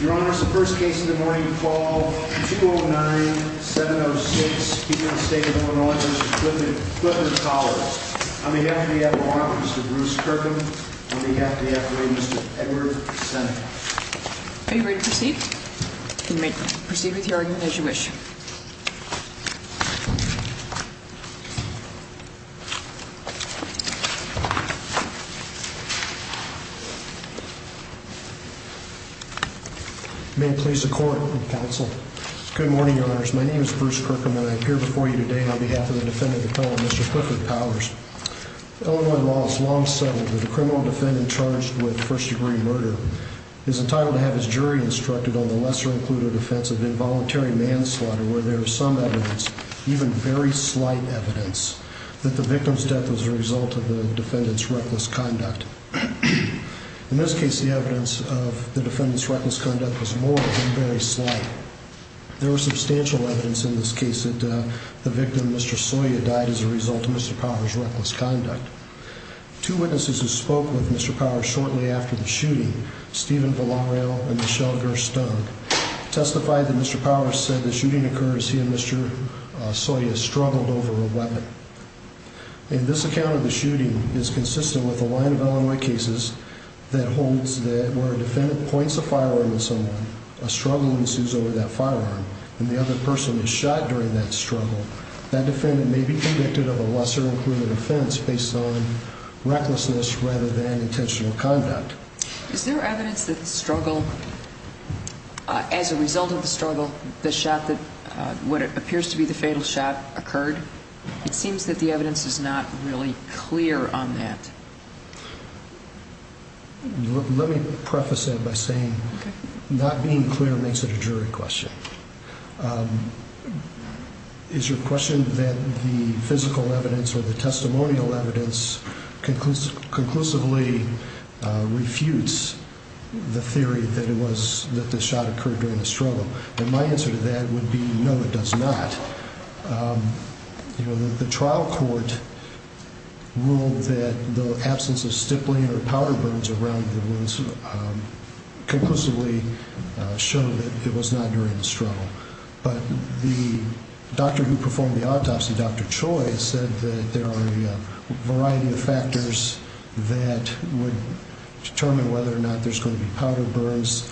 Your Honor, the first case of the morning to call is 209-706, keeping the State of Illinois Judge Clifton Powers. On behalf of the FRA, Mr. Bruce Kirkham. On behalf of the FRA, Mr. Edward Seneca. Are you ready to proceed? You may proceed with your argument as you wish. May it please the court and counsel. Good morning, Your Honors. My name is Bruce Kirkham and I appear before you today on behalf of the defendant, the felon, Mr. Clifford Powers. Illinois law has long settled that a criminal defendant charged with first-degree murder is entitled to have his jury instructed on the lesser-included offense of involuntary manslaughter where there is some evidence, even very slight evidence, that the victim's death was the result of the defendant's reckless conduct. In this case, the evidence of the defendant's reckless conduct was more than very slight. There was substantial evidence in this case that the victim, Mr. Sawyer, died as a result of Mr. Powers' reckless conduct. Two witnesses who spoke with Mr. Powers shortly after the shooting, Stephen Villareal and Michelle Gerstung, testified that Mr. Powers said the shooting occurred as he and Mr. Sawyer struggled over a weapon. And this account of the shooting is consistent with a line of Illinois cases that holds that where a defendant points a firearm at someone, a struggle ensues over that firearm, and the other person is shot during that struggle, that defendant may be convicted of a lesser-included offense based on recklessness rather than intentional conduct. Is there evidence that the struggle, as a result of the struggle, the shot that what appears to be the fatal shot occurred? It seems that the evidence is not really clear on that. Let me preface that by saying not being clear makes it a jury question. Is your question that the physical evidence or the testimonial evidence conclusively refutes the theory that the shot occurred during the struggle? And my answer to that would be no, it does not. The trial court ruled that the absence of stippling or powder burns around the wounds conclusively showed that it was not during the struggle. But the doctor who performed the autopsy, Dr. Choi, said that there are a variety of factors that would determine whether or not there's going to be powder burns.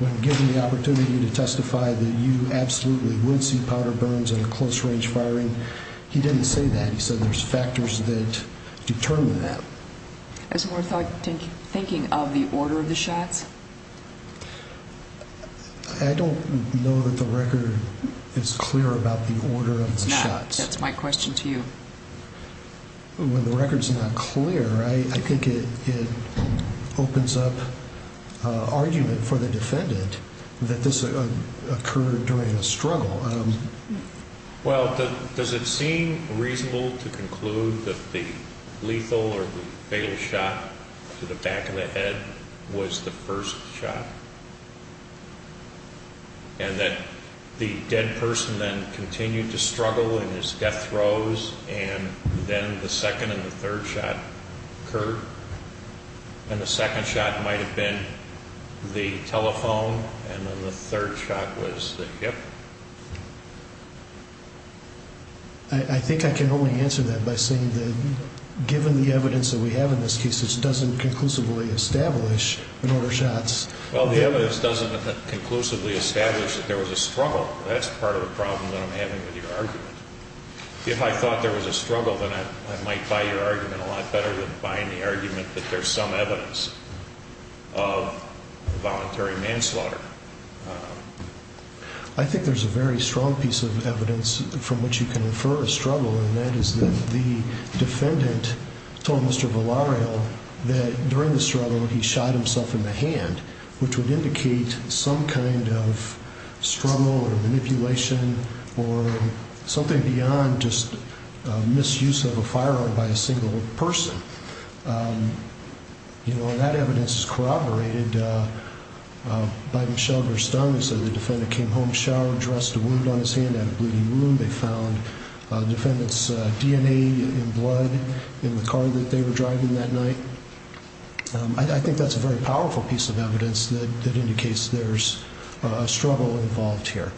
When given the opportunity to testify that you absolutely would see powder burns in a close-range firing, he didn't say that. He said there's factors that determine that. Is there more thinking of the order of the shots? I don't know that the record is clear about the order of the shots. That's my question to you. When the record's not clear, I think it opens up argument for the defendant that this occurred during a struggle. Well, does it seem reasonable to conclude that the lethal or fatal shot to the back of the head was the first shot? And that the dead person then continued to struggle in his death throes, and then the second and the third shot occurred? And the second shot might have been the telephone, and then the third shot was the hip? I think I can only answer that by saying that given the evidence that we have in this case, it doesn't conclusively establish an order of shots. Well, the evidence doesn't conclusively establish that there was a struggle. That's part of the problem that I'm having with your argument. If I thought there was a struggle, then I might buy your argument a lot better than buying the argument that there's some evidence of voluntary manslaughter. I think there's a very strong piece of evidence from which you can infer a struggle, and that is that the defendant told Mr. Villareal that during the struggle he shot himself in the hand, which would indicate some kind of struggle or manipulation or something beyond just misuse of a firearm by a single person. That evidence is corroborated by Michelle Verstang. They said the defendant came home showered, dressed a wound on his hand, had a bleeding wound. They found the defendant's DNA and blood in the car that they were driving that night. I think that's a very powerful piece of evidence that indicates there's a struggle involved here.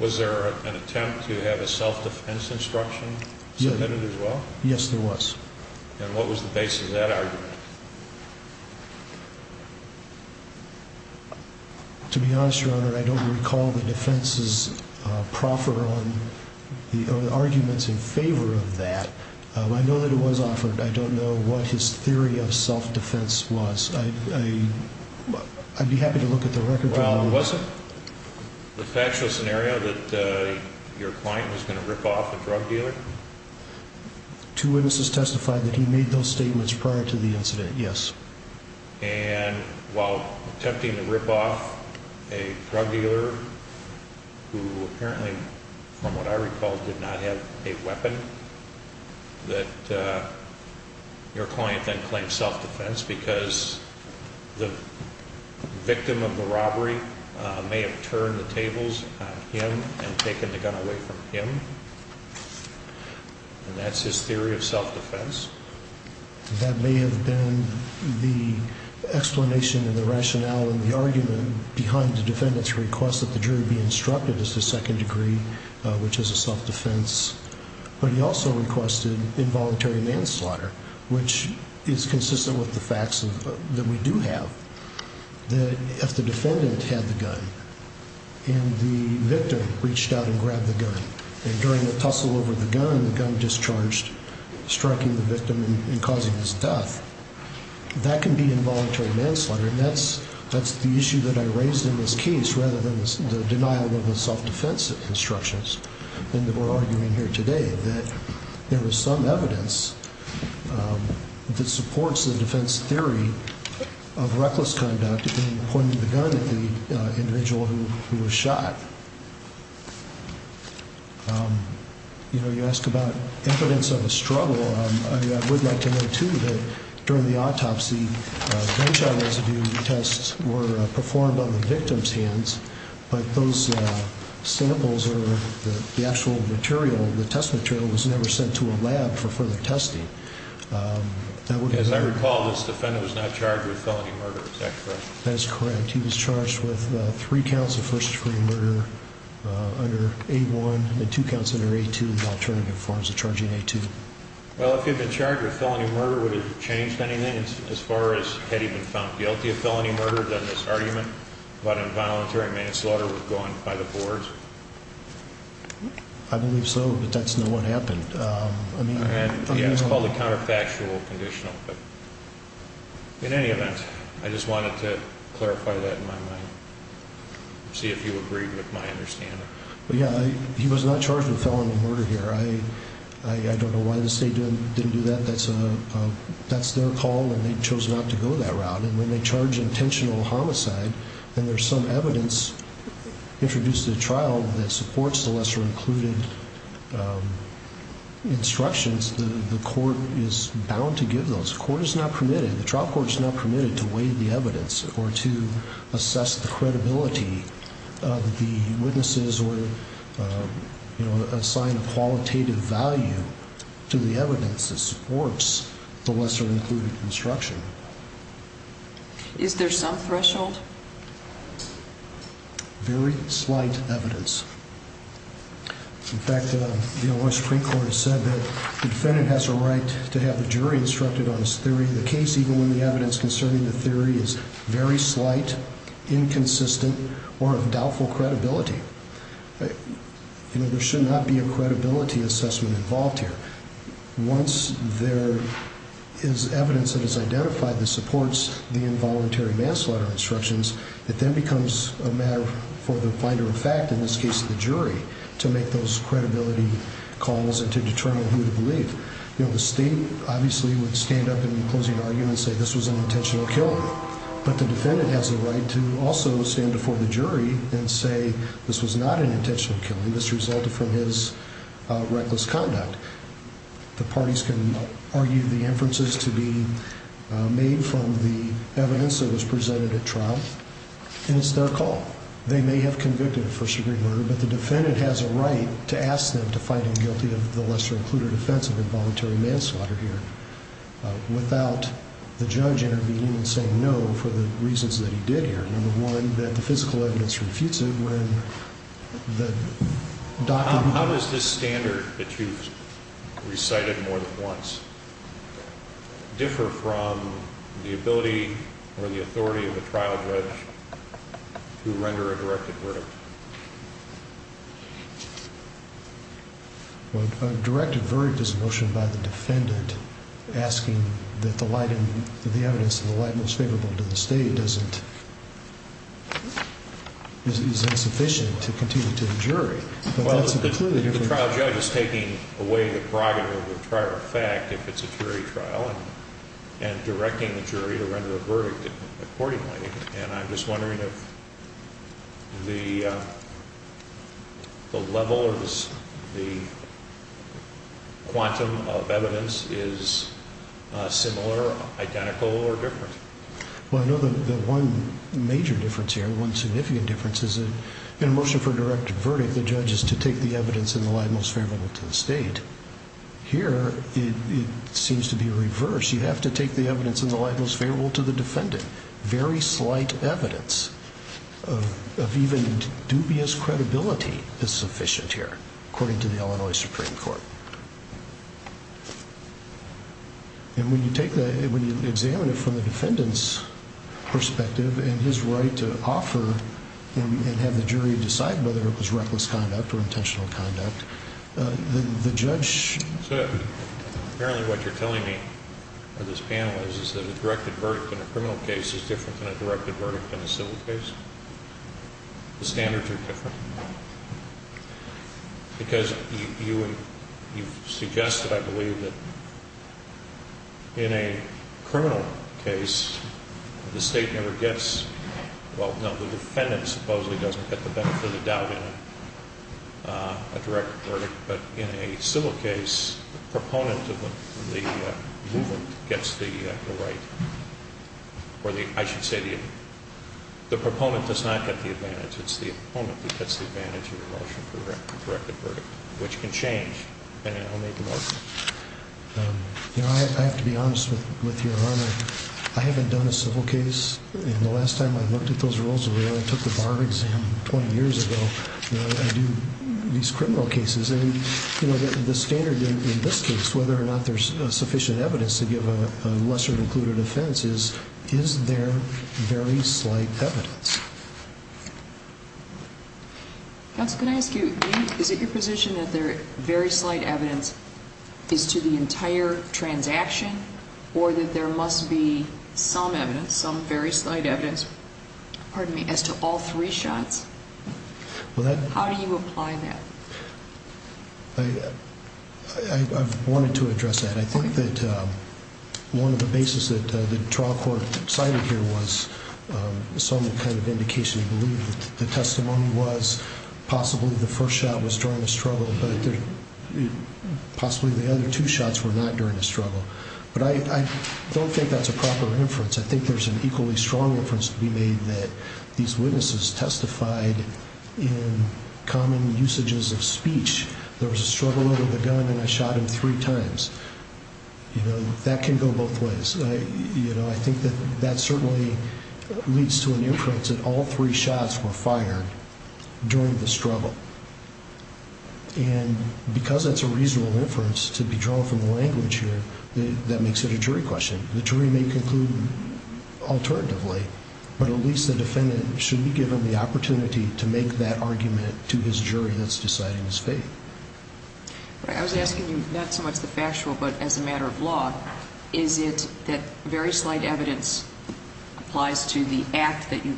Was there an attempt to have a self-defense instruction submitted as well? Yes, there was. And what was the basis of that argument? To be honest, Your Honor, I don't recall the defense's proffer on the arguments in favor of that. I know that it was offered. I don't know what his theory of self-defense was. I'd be happy to look at the record. Was it the factual scenario that your client was going to rip off a drug dealer? Two witnesses testified that he made those statements prior to the incident, yes. And while attempting to rip off a drug dealer who apparently, from what I recall, did not have a weapon, that your client then claimed self-defense because the victim of the robbery may have turned the tables on him and taken the gun away from him, and that's his theory of self-defense. That may have been the explanation and the rationale and the argument behind the defendant's request that the jury be instructed as to second degree, which is a self-defense. But he also requested involuntary manslaughter, which is consistent with the facts that we do have. If the defendant had the gun and the victim reached out and grabbed the gun, and during the tussle over the gun, the gun discharged, striking the victim and causing his death, that can be involuntary manslaughter, and that's the issue that I raised in this case rather than the denial of the self-defense instructions that we're arguing here today, that there was some evidence that supports the defense theory of reckless conduct in pointing the gun at the individual who was shot. You know, you ask about impotence of a struggle. I would like to note, too, that during the autopsy, gunshot residue tests were performed on the victim's hands, but those samples or the actual material, the test material, was never sent to a lab for further testing. As I recall, this defendant was not charged with felony murder. Is that correct? That is correct. He was charged with three counts of first degree murder under A1 and two counts under A2 in alternative forms of charging A2. Well, if he had been charged with felony murder, would it have changed anything as far as if he had been found guilty of felony murder, then this argument about involuntary manslaughter was going by the boards? I believe so, but that's not what happened. Yeah, it's called a counterfactual conditional, but in any event, I just wanted to clarify that in my mind, see if you agree with my understanding. Yeah, he was not charged with felony murder here. I don't know why the state didn't do that. That's their call and they chose not to go that route, and when they charge intentional homicide and there's some evidence introduced at trial that supports the lesser-included instructions, the court is bound to give those. The court is not permitted, the trial court is not permitted, to weigh the evidence or to assess the credibility of the witnesses or assign a qualitative value to the evidence that supports the lesser-included instruction. Is there some threshold? Very slight evidence. In fact, the Supreme Court has said that the defendant has a right to have the jury instructed on his theory of the case even when the evidence concerning the theory is very slight, inconsistent, or of doubtful credibility. There should not be a credibility assessment involved here. Once there is evidence that is identified that supports the involuntary manslaughter instructions, it then becomes a matter for the finder of fact, in this case the jury, to make those credibility calls and to determine who to believe. The state obviously would stand up in the closing argument and say this was an intentional killing, but the defendant has a right to also stand before the jury and say this was not an intentional killing, this resulted from his reckless conduct. The parties can argue the inferences to be made from the evidence that was presented at trial, and it's their call. They may have convicted a first-degree murderer, but the defendant has a right to ask them to find him guilty of the lesser-included offense of involuntary manslaughter here without the judge intervening and saying no for the reasons that he did here. Number one, that the physical evidence refutes it. How does this standard that you've recited more than once differ from the ability or the authority of the trial judge to render a directed verdict? A directed verdict is a motion by the defendant asking that the evidence in the light most favorable to the state is insufficient to continue to the jury. Well, the trial judge is taking away the prerogative of the prior fact if it's a jury trial and directing the jury to render a verdict accordingly, and I'm just wondering if the level or the quantum of evidence is similar, identical, or different. Well, I know that one major difference here, one significant difference, is that in a motion for a directed verdict, the judge is to take the evidence in the light most favorable to the state. Here, it seems to be reversed. You have to take the evidence in the light most favorable to the defendant. Very slight evidence of even dubious credibility is sufficient here, according to the Illinois Supreme Court. And when you take that, when you examine it from the defendant's perspective and his right to offer and have the jury decide whether it was reckless conduct or intentional conduct, the judge... So apparently what you're telling me, or this panel is, is that a directed verdict in a criminal case is different than a directed verdict in a civil case. The standards are different. Because you've suggested, I believe, that in a criminal case, the state never gets... Well, no, the defendant supposedly doesn't get the benefit of the doubt in a directed verdict, but in a civil case, the proponent of the movement gets the right, or I should say the proponent does not get the advantage. It's the opponent that gets the advantage of the motion for a directed verdict, which can change. And I'll make a motion. You know, I have to be honest with you, Your Honor. I haven't done a civil case. And the last time I looked at those rules was when I took the bar exam 20 years ago. You know, I do these criminal cases. And, you know, the standard in this case, whether or not there's sufficient evidence to give a lesser-included offense, is there very slight evidence? Counsel, can I ask you, is it your position that there is very slight evidence as to the entire transaction or that there must be some evidence, some very slight evidence, pardon me, as to all three shots? How do you apply that? I've wanted to address that. I think that one of the bases that the trial court cited here was some kind of indication to believe that the testimony was possibly the first shot was during the struggle, but possibly the other two shots were not during the struggle. But I don't think that's a proper inference. I think there's an equally strong inference to be made that these witnesses testified in common usages of speech. There was a struggle over the gun and I shot him three times. You know, that can go both ways. You know, I think that that certainly leads to an inference that all three shots were fired during the struggle. And because that's a reasonable inference to be drawn from the language here, that makes it a jury question. The jury may conclude alternatively, but at least the defendant should be given the opportunity to make that argument to his jury that's deciding his fate. I was asking you not so much the factual but as a matter of law. Is it that very slight evidence applies to the act that you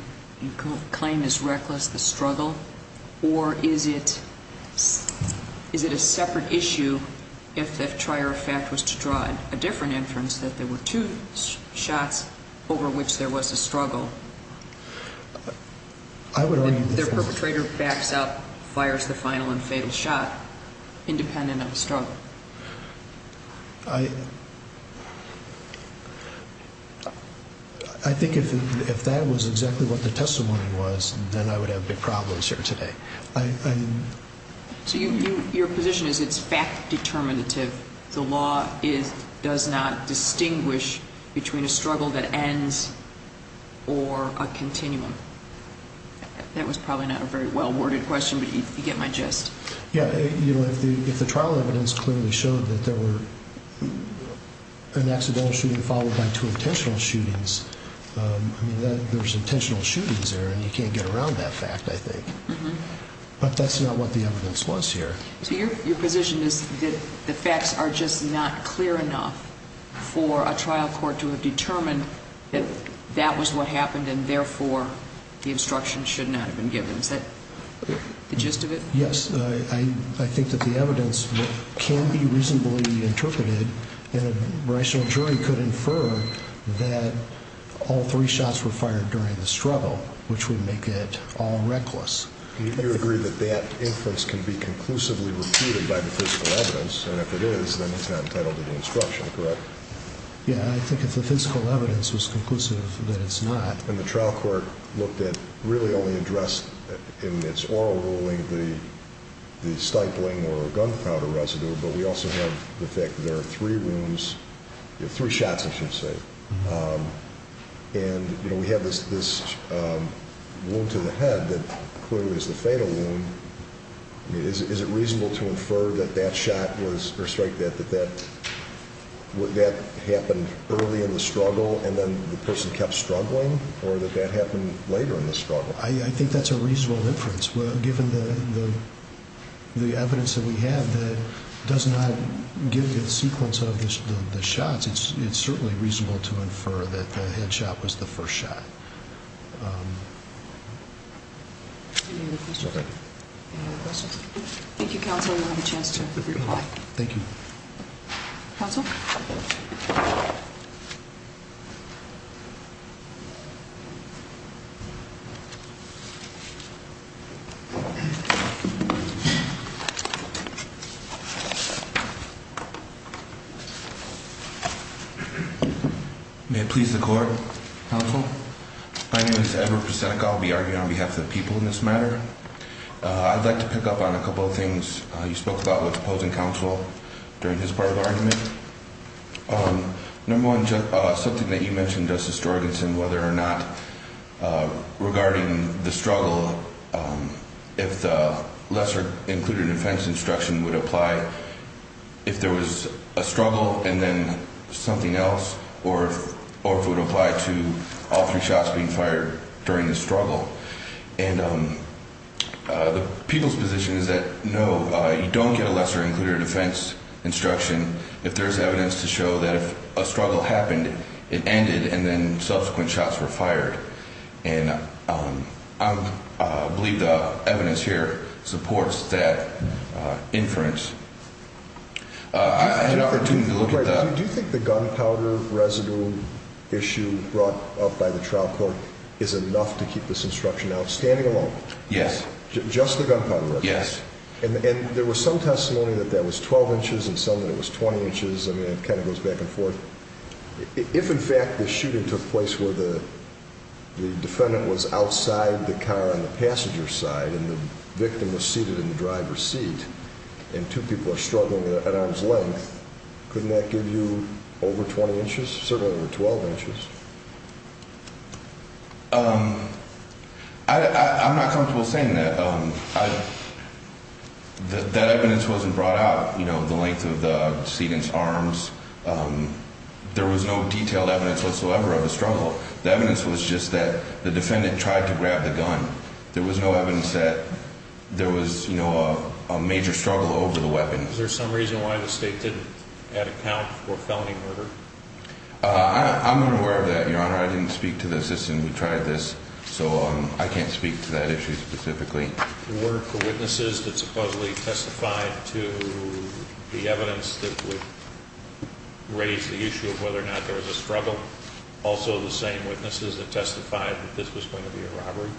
claim is reckless, the struggle, or is it a separate issue if the trier of fact was to draw a different inference, that there were two shots over which there was a struggle? Their perpetrator backs up, fires the final and fatal shot independent of the struggle. I think if that was exactly what the testimony was, then I would have big problems here today. So your position is it's fact determinative. The law does not distinguish between a struggle that ends or a continuum. That was probably not a very well-worded question, but you get my gist. Yeah. You know, if the trial evidence clearly showed that there were an accidental shooting followed by two intentional shootings, I mean, there was intentional shootings there, and you can't get around that fact, I think. But that's not what the evidence was here. So your position is that the facts are just not clear enough for a trial court to have determined that that was what happened and, therefore, the instruction should not have been given. Is that the gist of it? Yes. I think that the evidence can be reasonably interpreted, and a rational jury could infer that all three shots were fired during the struggle, which would make it all reckless. You agree that that inference can be conclusively repeated by the physical evidence, and if it is, then it's not entitled to the instruction, correct? Yeah. I think if the physical evidence was conclusive, then it's not. And the trial court looked at really only addressed in its oral ruling the stifling or gunpowder residue, but we also have the fact that there are three wounds, three shots, I should say. And, you know, we have this wound to the head that clearly is the fatal wound. Is it reasonable to infer that that shot was, or strike that, that that happened early in the struggle and then the person kept struggling, or that that happened later in the struggle? I think that's a reasonable inference. Given the evidence that we have that does not give the sequence of the shots, it's certainly reasonable to infer that the head shot was the first shot. Any other questions? Thank you, counsel. You'll have a chance to reply. Thank you. Counsel? May it please the court? Counsel? My name is Edward Posenek. I'll be arguing on behalf of the people in this matter. I'd like to pick up on a couple of things you spoke about with opposing counsel during his part of the argument. Number one, something that you mentioned, Justice Dorganson, whether or not regarding the struggle, if the lesser included offense instruction would apply if there was a struggle and then something else, or if it would apply to all three shots being fired during the struggle. And the people's position is that, no, you don't get a lesser included offense instruction if there's evidence to show that if a struggle happened, it ended and then subsequent shots were fired. And I believe the evidence here supports that inference. I had an opportunity to look at that. Do you think the gunpowder residue issue brought up by the trial court is enough to keep this instruction out? Standing alone? Yes. Just the gunpowder residue? Yes. And there was some testimony that that was 12 inches and some that it was 20 inches. I mean, it kind of goes back and forth. If, in fact, the shooting took place where the defendant was outside the car on the passenger side and the victim was seated in the driver's seat and two people are struggling at arm's length, couldn't that give you over 20 inches, certainly over 12 inches? I'm not comfortable saying that. That evidence wasn't brought up, you know, the length of the seat and arms. There was no detailed evidence whatsoever of a struggle. The evidence was just that the defendant tried to grab the gun. There was no evidence that there was, you know, a major struggle over the weapon. Is there some reason why the state didn't add a count for felony murder? I'm unaware of that, Your Honor. I didn't speak to the assistant who tried this, so I can't speak to that issue specifically. Were the witnesses that supposedly testified to the evidence that raised the issue of whether or not there was a struggle also the same witnesses that testified that this was going to be a robbery?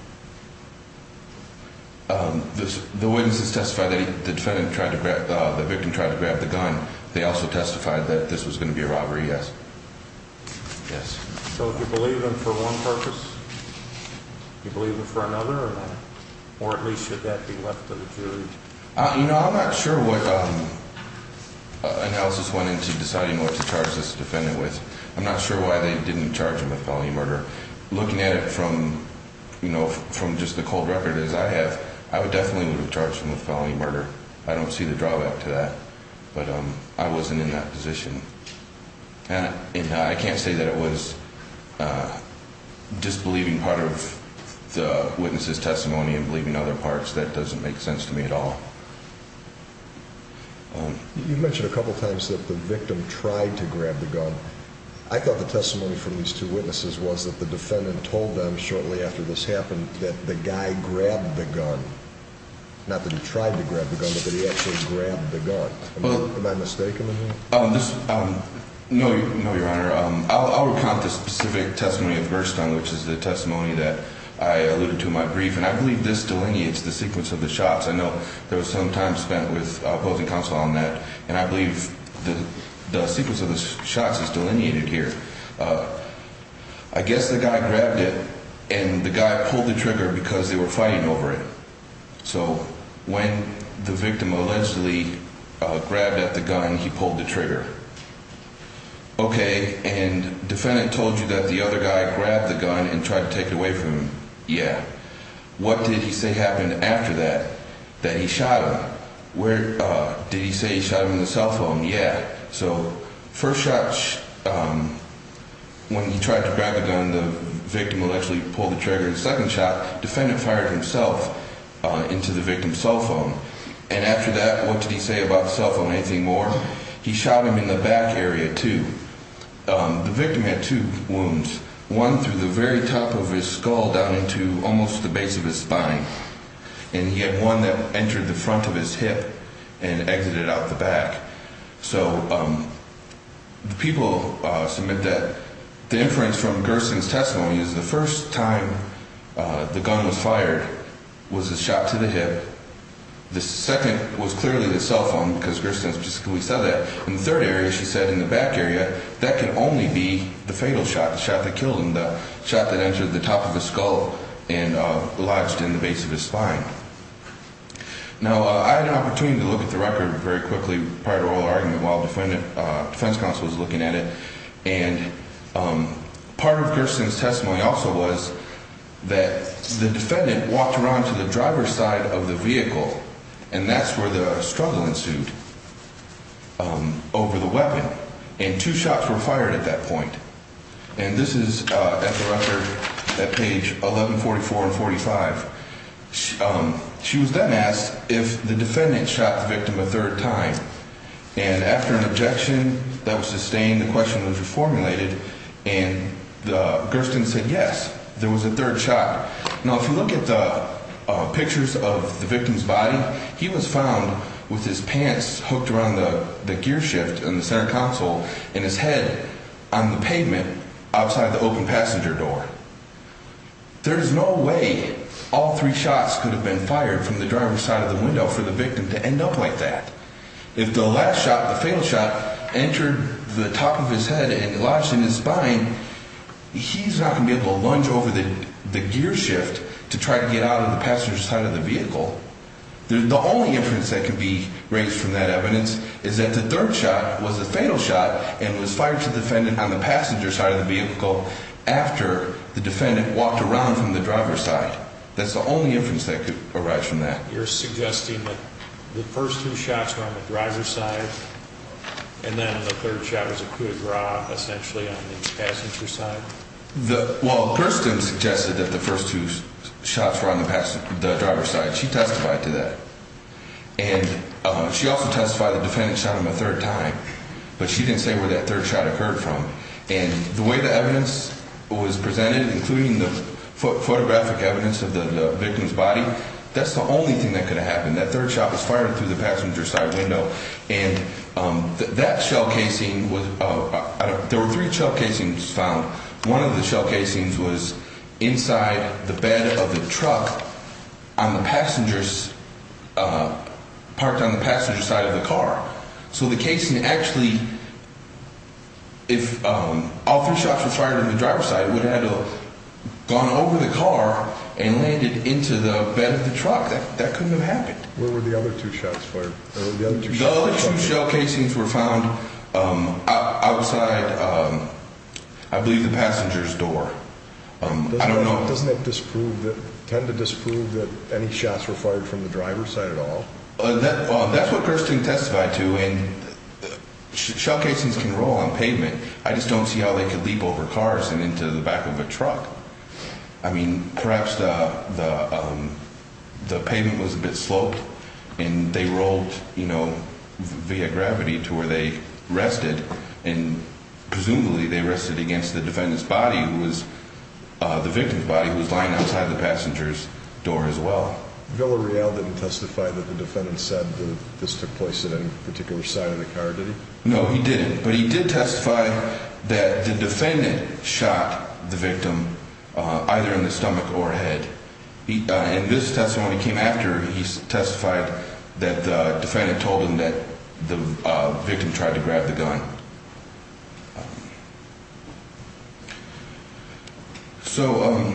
The witnesses testified that the victim tried to grab the gun. They also testified that this was going to be a robbery, yes. Yes. So if you believe them for one purpose, do you believe them for another or not? Or at least should that be left to the jury? You know, I'm not sure what analysis went into deciding what to charge this defendant with. I'm not sure why they didn't charge him with felony murder. Looking at it from, you know, from just the cold record as I have, I definitely would have charged him with felony murder. I don't see the drawback to that. But I wasn't in that position. And I can't say that it was disbelieving part of the witness's testimony and believing other parts. That doesn't make sense to me at all. You mentioned a couple times that the victim tried to grab the gun. I thought the testimony from these two witnesses was that the defendant told them shortly after this happened that the guy grabbed the gun. Not that he tried to grab the gun, but that he actually grabbed the gun. Am I mistaken in here? No, Your Honor. I'll recount the specific testimony of Gerstmann, which is the testimony that I alluded to in my brief. And I believe this delineates the sequence of the shots. I know there was some time spent with opposing counsel on that. And I believe the sequence of the shots is delineated here. I guess the guy grabbed it and the guy pulled the trigger because they were fighting over it. So when the victim allegedly grabbed at the gun, he pulled the trigger. Okay, and defendant told you that the other guy grabbed the gun and tried to take it away from him. Yeah. What did he say happened after that? That he shot him. Did he say he shot him in the cell phone? Yeah. So first shot, when he tried to grab the gun, the victim allegedly pulled the trigger. And second shot, defendant fired himself into the victim's cell phone. And after that, what did he say about the cell phone? Anything more? He shot him in the back area too. The victim had two wounds. One through the very top of his skull down into almost the base of his spine. And he had one that entered the front of his hip and exited out the back. So the people submit that the inference from Gersten's testimony is the first time the gun was fired was a shot to the hip. The second was clearly the cell phone because Gersten specifically said that. In the third area, she said in the back area, that can only be the fatal shot, the shot that killed him, the shot that entered the top of his skull and lodged in the base of his spine. Now, I had an opportunity to look at the record very quickly prior to oral argument while defense counsel was looking at it. And part of Gersten's testimony also was that the defendant walked around to the driver's side of the vehicle. And that's where the struggle ensued over the weapon. And two shots were fired at that point. And this is at the record at page 1144 and 45. She was then asked if the defendant shot the victim a third time. And after an objection that was sustained, the question was reformulated. And Gersten said yes, there was a third shot. Now, if you look at the pictures of the victim's body, he was found with his pants hooked around the gear shift in the center console. And his head on the pavement outside the open passenger door. There's no way all three shots could have been fired from the driver's side of the window for the victim to end up like that. If the last shot, the fatal shot, entered the top of his head and lodged in his spine, he's not going to be able to lunge over the gear shift to try to get out of the passenger side of the vehicle. The only inference that can be raised from that evidence is that the third shot was a fatal shot and was fired to the defendant on the passenger side of the vehicle after the defendant walked around from the driver's side. That's the only inference that could arise from that. You're suggesting that the first two shots were on the driver's side and then the third shot was a coup de grace, essentially, on the passenger side? Well, Gersten suggested that the first two shots were on the driver's side. She testified to that. And she also testified the defendant shot him a third time, but she didn't say where that third shot occurred from. And the way the evidence was presented, including the photographic evidence of the victim's body, that's the only thing that could have happened. That third shot was fired through the passenger side window. And that shell casing was – there were three shell casings found. One of the shell casings was inside the bed of the truck on the passenger's – parked on the passenger side of the car. So the casing actually – if all three shots were fired on the driver's side, it would have gone over the car and landed into the bed of the truck. That couldn't have happened. Where were the other two shots fired? The other two shell casings were found outside, I believe, the passenger's door. I don't know. Doesn't that disprove – tend to disprove that any shots were fired from the driver's side at all? That's what Gersten testified to. And shell casings can roll on pavement. I just don't see how they could leap over cars and into the back of a truck. I mean, perhaps the pavement was a bit sloped and they rolled, you know, via gravity to where they rested. And presumably they rested against the defendant's body, who was – the victim's body, who was lying outside the passenger's door as well. Villareal didn't testify that the defendant said that this took place at any particular side of the car, did he? No, he didn't. But he did testify that the defendant shot the victim either in the stomach or head. And this testimony came after he testified that the defendant told him that the victim tried to grab the gun. So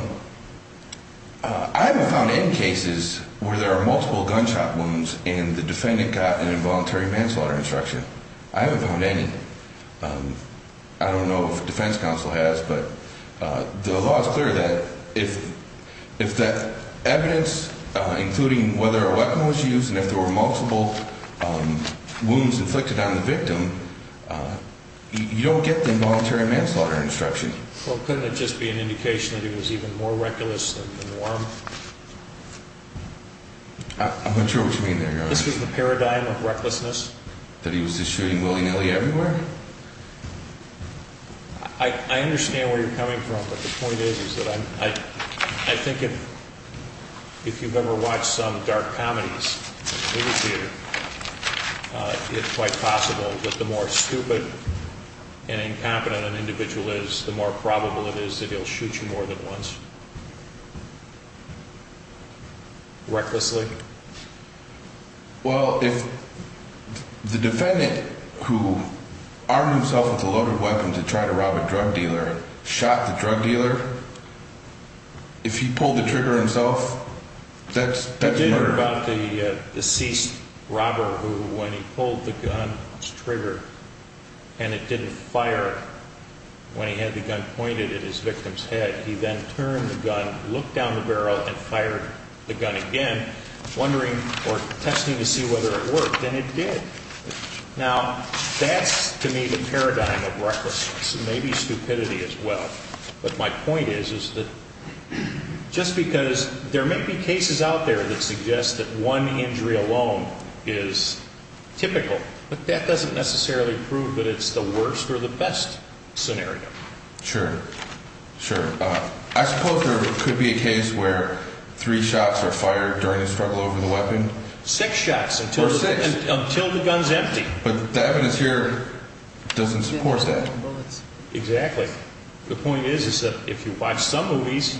I haven't found any cases where there are multiple gunshot wounds and the defendant got an involuntary manslaughter instruction. I haven't found any. I don't know if the defense counsel has, but the law is clear that if that evidence, including whether a weapon was used, and if there were multiple wounds inflicted on the victim, you don't get the involuntary manslaughter instruction. Well, couldn't it just be an indication that he was even more reckless than warm? I'm not sure what you mean there, Your Honor. This was the paradigm of recklessness? That he was just shooting willy-nilly everywhere? I understand where you're coming from, but the point is that I think if you've ever watched some dark comedies in theater, it's quite possible that the more stupid and incompetent an individual is, the more probable it is that he'll shoot you more than once. Recklessly. Well, if the defendant, who armed himself with a loaded weapon to try to rob a drug dealer, shot the drug dealer, if he pulled the trigger himself, that's murder. I did hear about the deceased robber who, when he pulled the gun's trigger and it didn't fire when he had the gun pointed at his victim's head, he then turned the gun, looked down the barrel, and fired the gun again, testing to see whether it worked, and it did. Now, that's, to me, the paradigm of recklessness. Maybe stupidity as well. But my point is that just because there may be cases out there that suggest that one injury alone is typical, but that doesn't necessarily prove that it's the worst or the best scenario. Sure, sure. I suppose there could be a case where three shots are fired during the struggle over the weapon. Six shots until the gun's empty. But the evidence here doesn't support that. Exactly. The point is that if you watch some movies,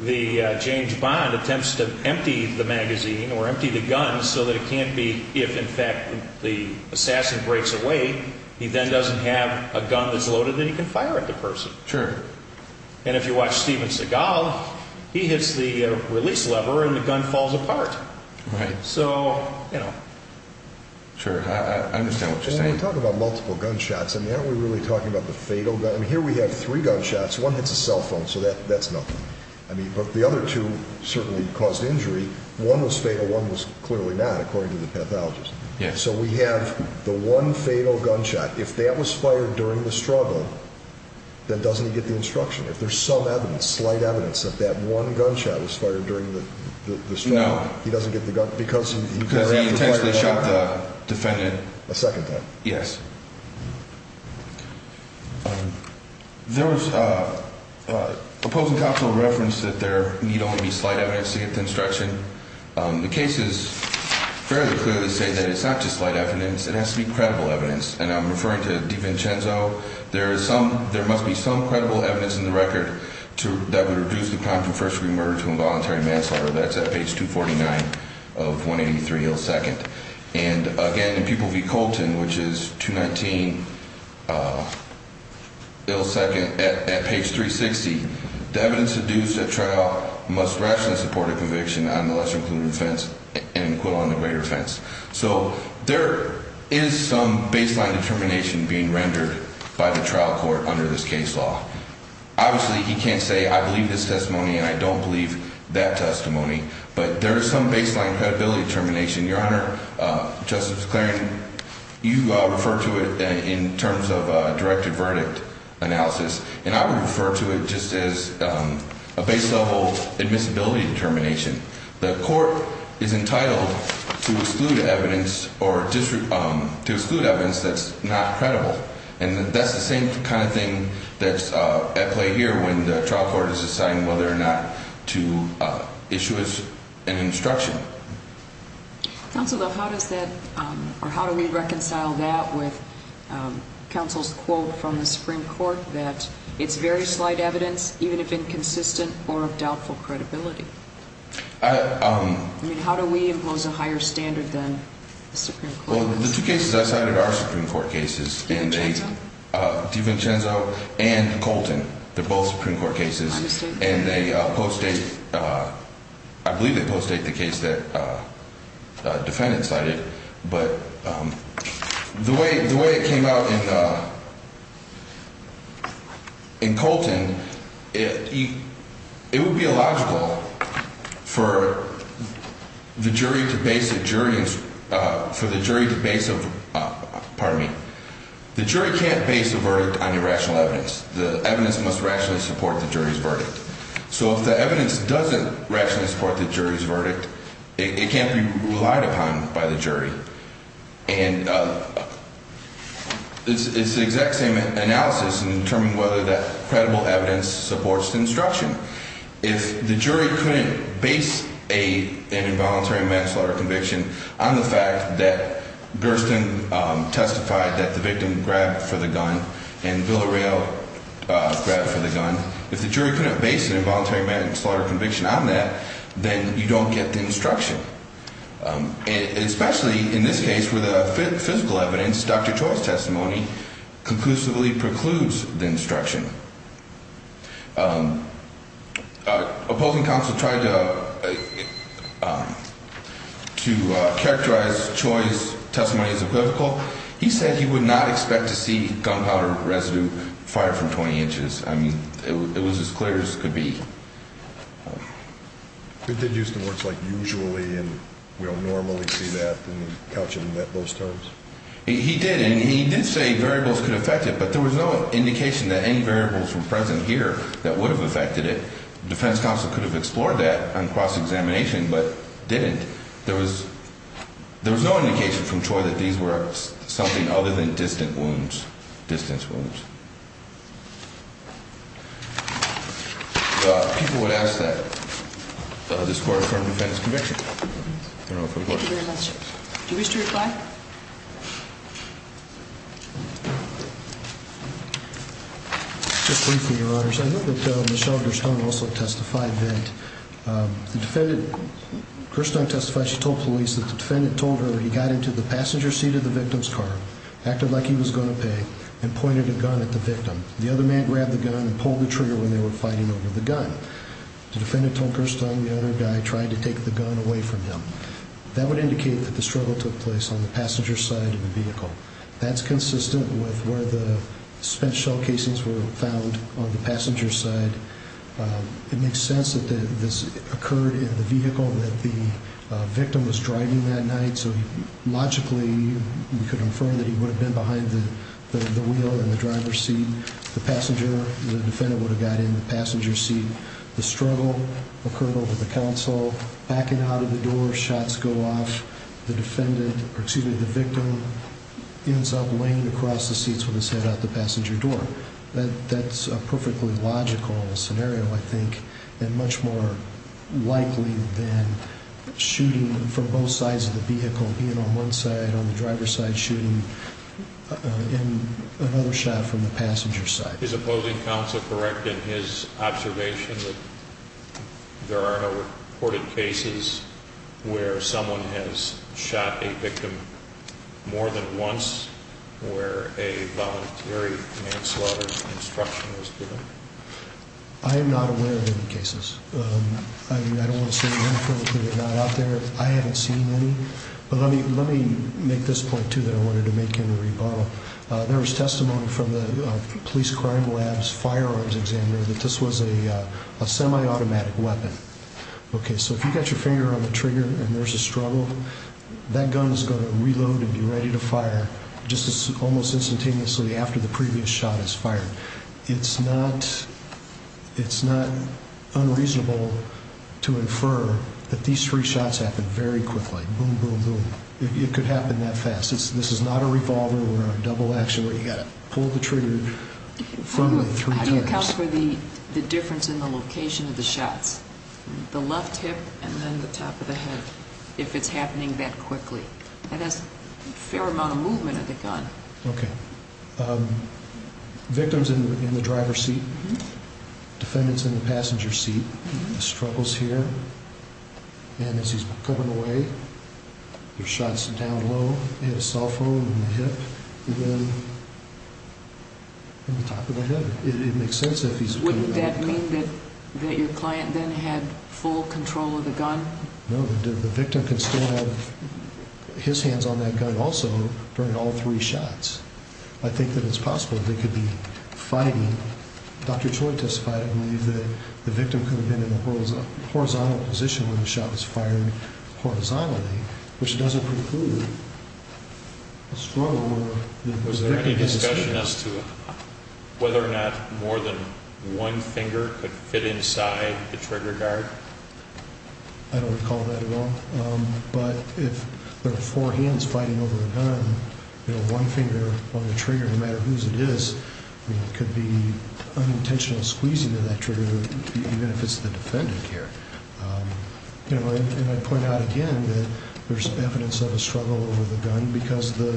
the James Bond attempts to empty the magazine or empty the gun so that it can't be, if, in fact, the assassin breaks away, he then doesn't have a gun that's loaded and he can fire at the person. Sure. And if you watch Steven Seagal, he hits the release lever and the gun falls apart. Right. So, you know. Sure, I understand what you're saying. When we talk about multiple gunshots, I mean, aren't we really talking about the fatal gun? I mean, here we have three gunshots. One hits a cell phone, so that's nothing. I mean, but the other two certainly caused injury. One was fatal. One was clearly not, according to the pathologist. Yeah. So we have the one fatal gunshot. If that was fired during the struggle, then doesn't he get the instruction? If there's some evidence, slight evidence, that that one gunshot was fired during the struggle, he doesn't get the gun? No, because he intentionally shot the defendant. A second time. Yes. There was opposing counsel reference that there need only be slight evidence to get the instruction. The case is fairly clear to say that it's not just slight evidence. It has to be credible evidence, and I'm referring to DeVincenzo. There must be some credible evidence in the record that would reduce the crime from first-degree murder to involuntary manslaughter. That's at page 249 of 183 Hill 2nd. And, again, in Pupil v. Colton, which is 219 Hill 2nd, at page 360, the evidence deduced at trial must rationally support a conviction on the less-included offense and an acquittal on the greater offense. So there is some baseline determination being rendered by the trial court under this case law. Obviously, he can't say, I believe this testimony and I don't believe that testimony, but there is some baseline credibility determination. Your Honor, Justice McClaren, you refer to it in terms of directed verdict analysis, and I would refer to it just as a base-level admissibility determination. The court is entitled to exclude evidence that's not credible, and that's the same kind of thing that's at play here when the trial court is deciding whether or not to issue an instruction. Counsel, how does that – or how do we reconcile that with counsel's quote from the Supreme Court that it's very slight evidence, even if inconsistent or of doubtful credibility? I mean, how do we impose a higher standard than the Supreme Court? Well, the two cases I cited are Supreme Court cases, and they – DiVincenzo and Colton. They're both Supreme Court cases, and they post-date – I believe they post-date the case that the defendant cited. But the way it came out in Colton, it would be illogical for the jury to base a jury – for the jury to base a – pardon me. The jury can't base a verdict on irrational evidence. The evidence must rationally support the jury's verdict. So if the evidence doesn't rationally support the jury's verdict, it can't be relied upon by the jury. And it's the exact same analysis in determining whether that credible evidence supports the instruction. If the jury couldn't base an involuntary manslaughter conviction on the fact that Gersten testified that the victim grabbed for the gun and Villareal grabbed for the gun, if the jury couldn't base an involuntary manslaughter conviction on that, then you don't get the instruction. And especially in this case where the physical evidence, Dr. Choi's testimony, conclusively precludes the instruction. Opposing counsel tried to characterize Choi's testimony as equivocal. He said he would not expect to see gunpowder residue fire from 20 inches. I mean, it was as clear as could be. He did use the words, like, usually, and we don't normally see that and couch it in those terms. He did, and he did say variables could affect it, but there was no indication that any variables were present here that would have affected it. Defense counsel could have explored that on cross-examination but didn't. There was no indication from Choi that these were something other than distant wounds, distance wounds. People would ask that this court affirm the defendant's conviction. Thank you very much. Do you wish to reply? Just briefly, Your Honors. I think that Michelle Gerstern also testified that the defendant, Gerstern testified she told police that the defendant told her he got into the passenger seat of the victim's car, acted like he was going to pay, and pointed a gun at the victim. The other man grabbed the gun and pulled the trigger when they were fighting over the gun. The defendant told Gerstern the other guy tried to take the gun away from him. That would indicate that the struggle took place on the passenger side of the vehicle. That's consistent with where the spent shell casings were found on the passenger side. It makes sense that this occurred in the vehicle that the victim was driving that night, so logically we could affirm that he would have been behind the wheel in the driver's seat. The passenger, the defendant would have got in the passenger seat. The struggle occurred over the counsel, backing out of the door, shots go off. The victim ends up laying across the seats with his head out the passenger door. That's a perfectly logical scenario, I think, and much more likely than shooting from both sides of the vehicle, being on one side, on the driver's side, shooting another shot from the passenger side. Is the opposing counsel correct in his observation that there are no reported cases where someone has shot a victim more than once, where a voluntary manslaughter instruction was given? I am not aware of any cases. I don't want to say that they're not out there. I haven't seen any, but let me make this point, too, that I wanted to make in the rebuttal. There was testimony from the police crime lab's firearms examiner that this was a semi-automatic weapon. Okay, so if you got your finger on the trigger and there's a struggle, that gun is going to reload and be ready to fire just almost instantaneously after the previous shot is fired. It's not unreasonable to infer that these three shots happened very quickly, boom, boom, boom. It could happen that fast. This is not a revolver or a double action where you've got to pull the trigger three times. How do you account for the difference in the location of the shots, the left hip and then the top of the head, if it's happening that quickly? That has a fair amount of movement of the gun. Okay. Victim's in the driver's seat. Defendant's in the passenger's seat. The struggle's here, and as he's coming away, the shot's down low, hit his cell phone in the hip, and then in the top of the head. It makes sense if he's doing that. Wouldn't that mean that your client then had full control of the gun? No, the victim can still have his hands on that gun also during all three shots. I think that it's possible they could be fighting. Dr. Choi testified, I believe, that the victim could have been in a horizontal position when the shot was fired horizontally, which doesn't preclude a struggle. Was there any discussion as to whether or not more than one finger could fit inside the trigger guard? I don't recall that at all. But if there are four hands fighting over the gun, one finger on the trigger, no matter whose it is, it could be unintentional squeezing of that trigger, even if it's the defendant here. And I'd point out again that there's evidence of a struggle over the gun because the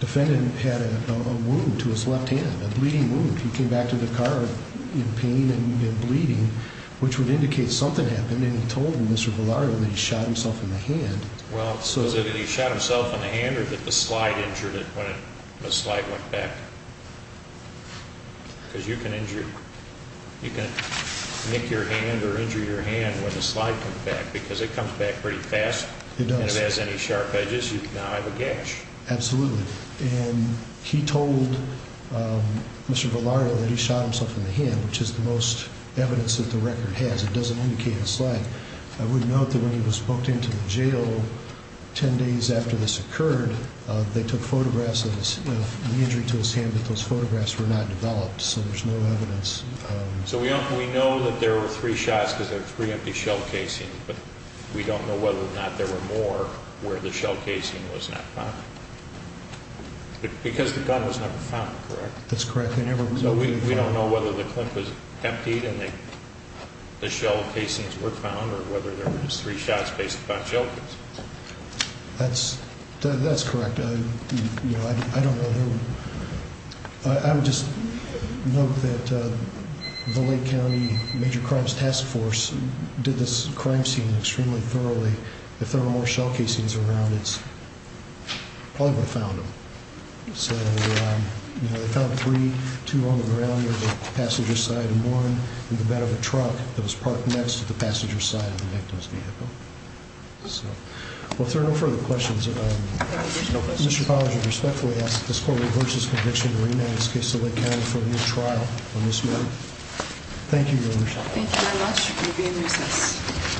defendant had a wound to his left hand, a bleeding wound. He came back to the car in pain and bleeding, which would indicate something happened, and he told Mr. Valario that he shot himself in the hand. Well, was it that he shot himself in the hand or that the slide injured him when the slide went back? Because you can injure, you can nick your hand or injure your hand when the slide comes back because it comes back pretty fast. It does. And if it has any sharp edges, you can now have a gash. Absolutely. And he told Mr. Valario that he shot himself in the hand, which is the most evidence that the record has. It doesn't indicate a slide. I would note that when he was booked into the jail 10 days after this occurred, they took photographs of the injury to his hand, but those photographs were not developed, so there's no evidence. So we know that there were three shots because there were three empty shell casings, but we don't know whether or not there were more where the shell casing was not found. Because the gun was never found, correct? That's correct. We don't know whether the clip was emptied and the shell casings were found or whether there were just three shots based upon shell casings. That's correct. I don't know. I would just note that the Lake County Major Crimes Task Force did this crime scene extremely thoroughly. If there were more shell casings around, it's probably where they found them. So they found three, two on the ground near the passenger side and one in the back of a truck that was parked next to the passenger side of the victim's vehicle. So if there are no further questions, Mr. Pollard, I respectfully ask that this court reverse this conviction and rename this case to Lake County for a new trial on this matter. Thank you, Your Worship. Thank you very much. You may be in recess.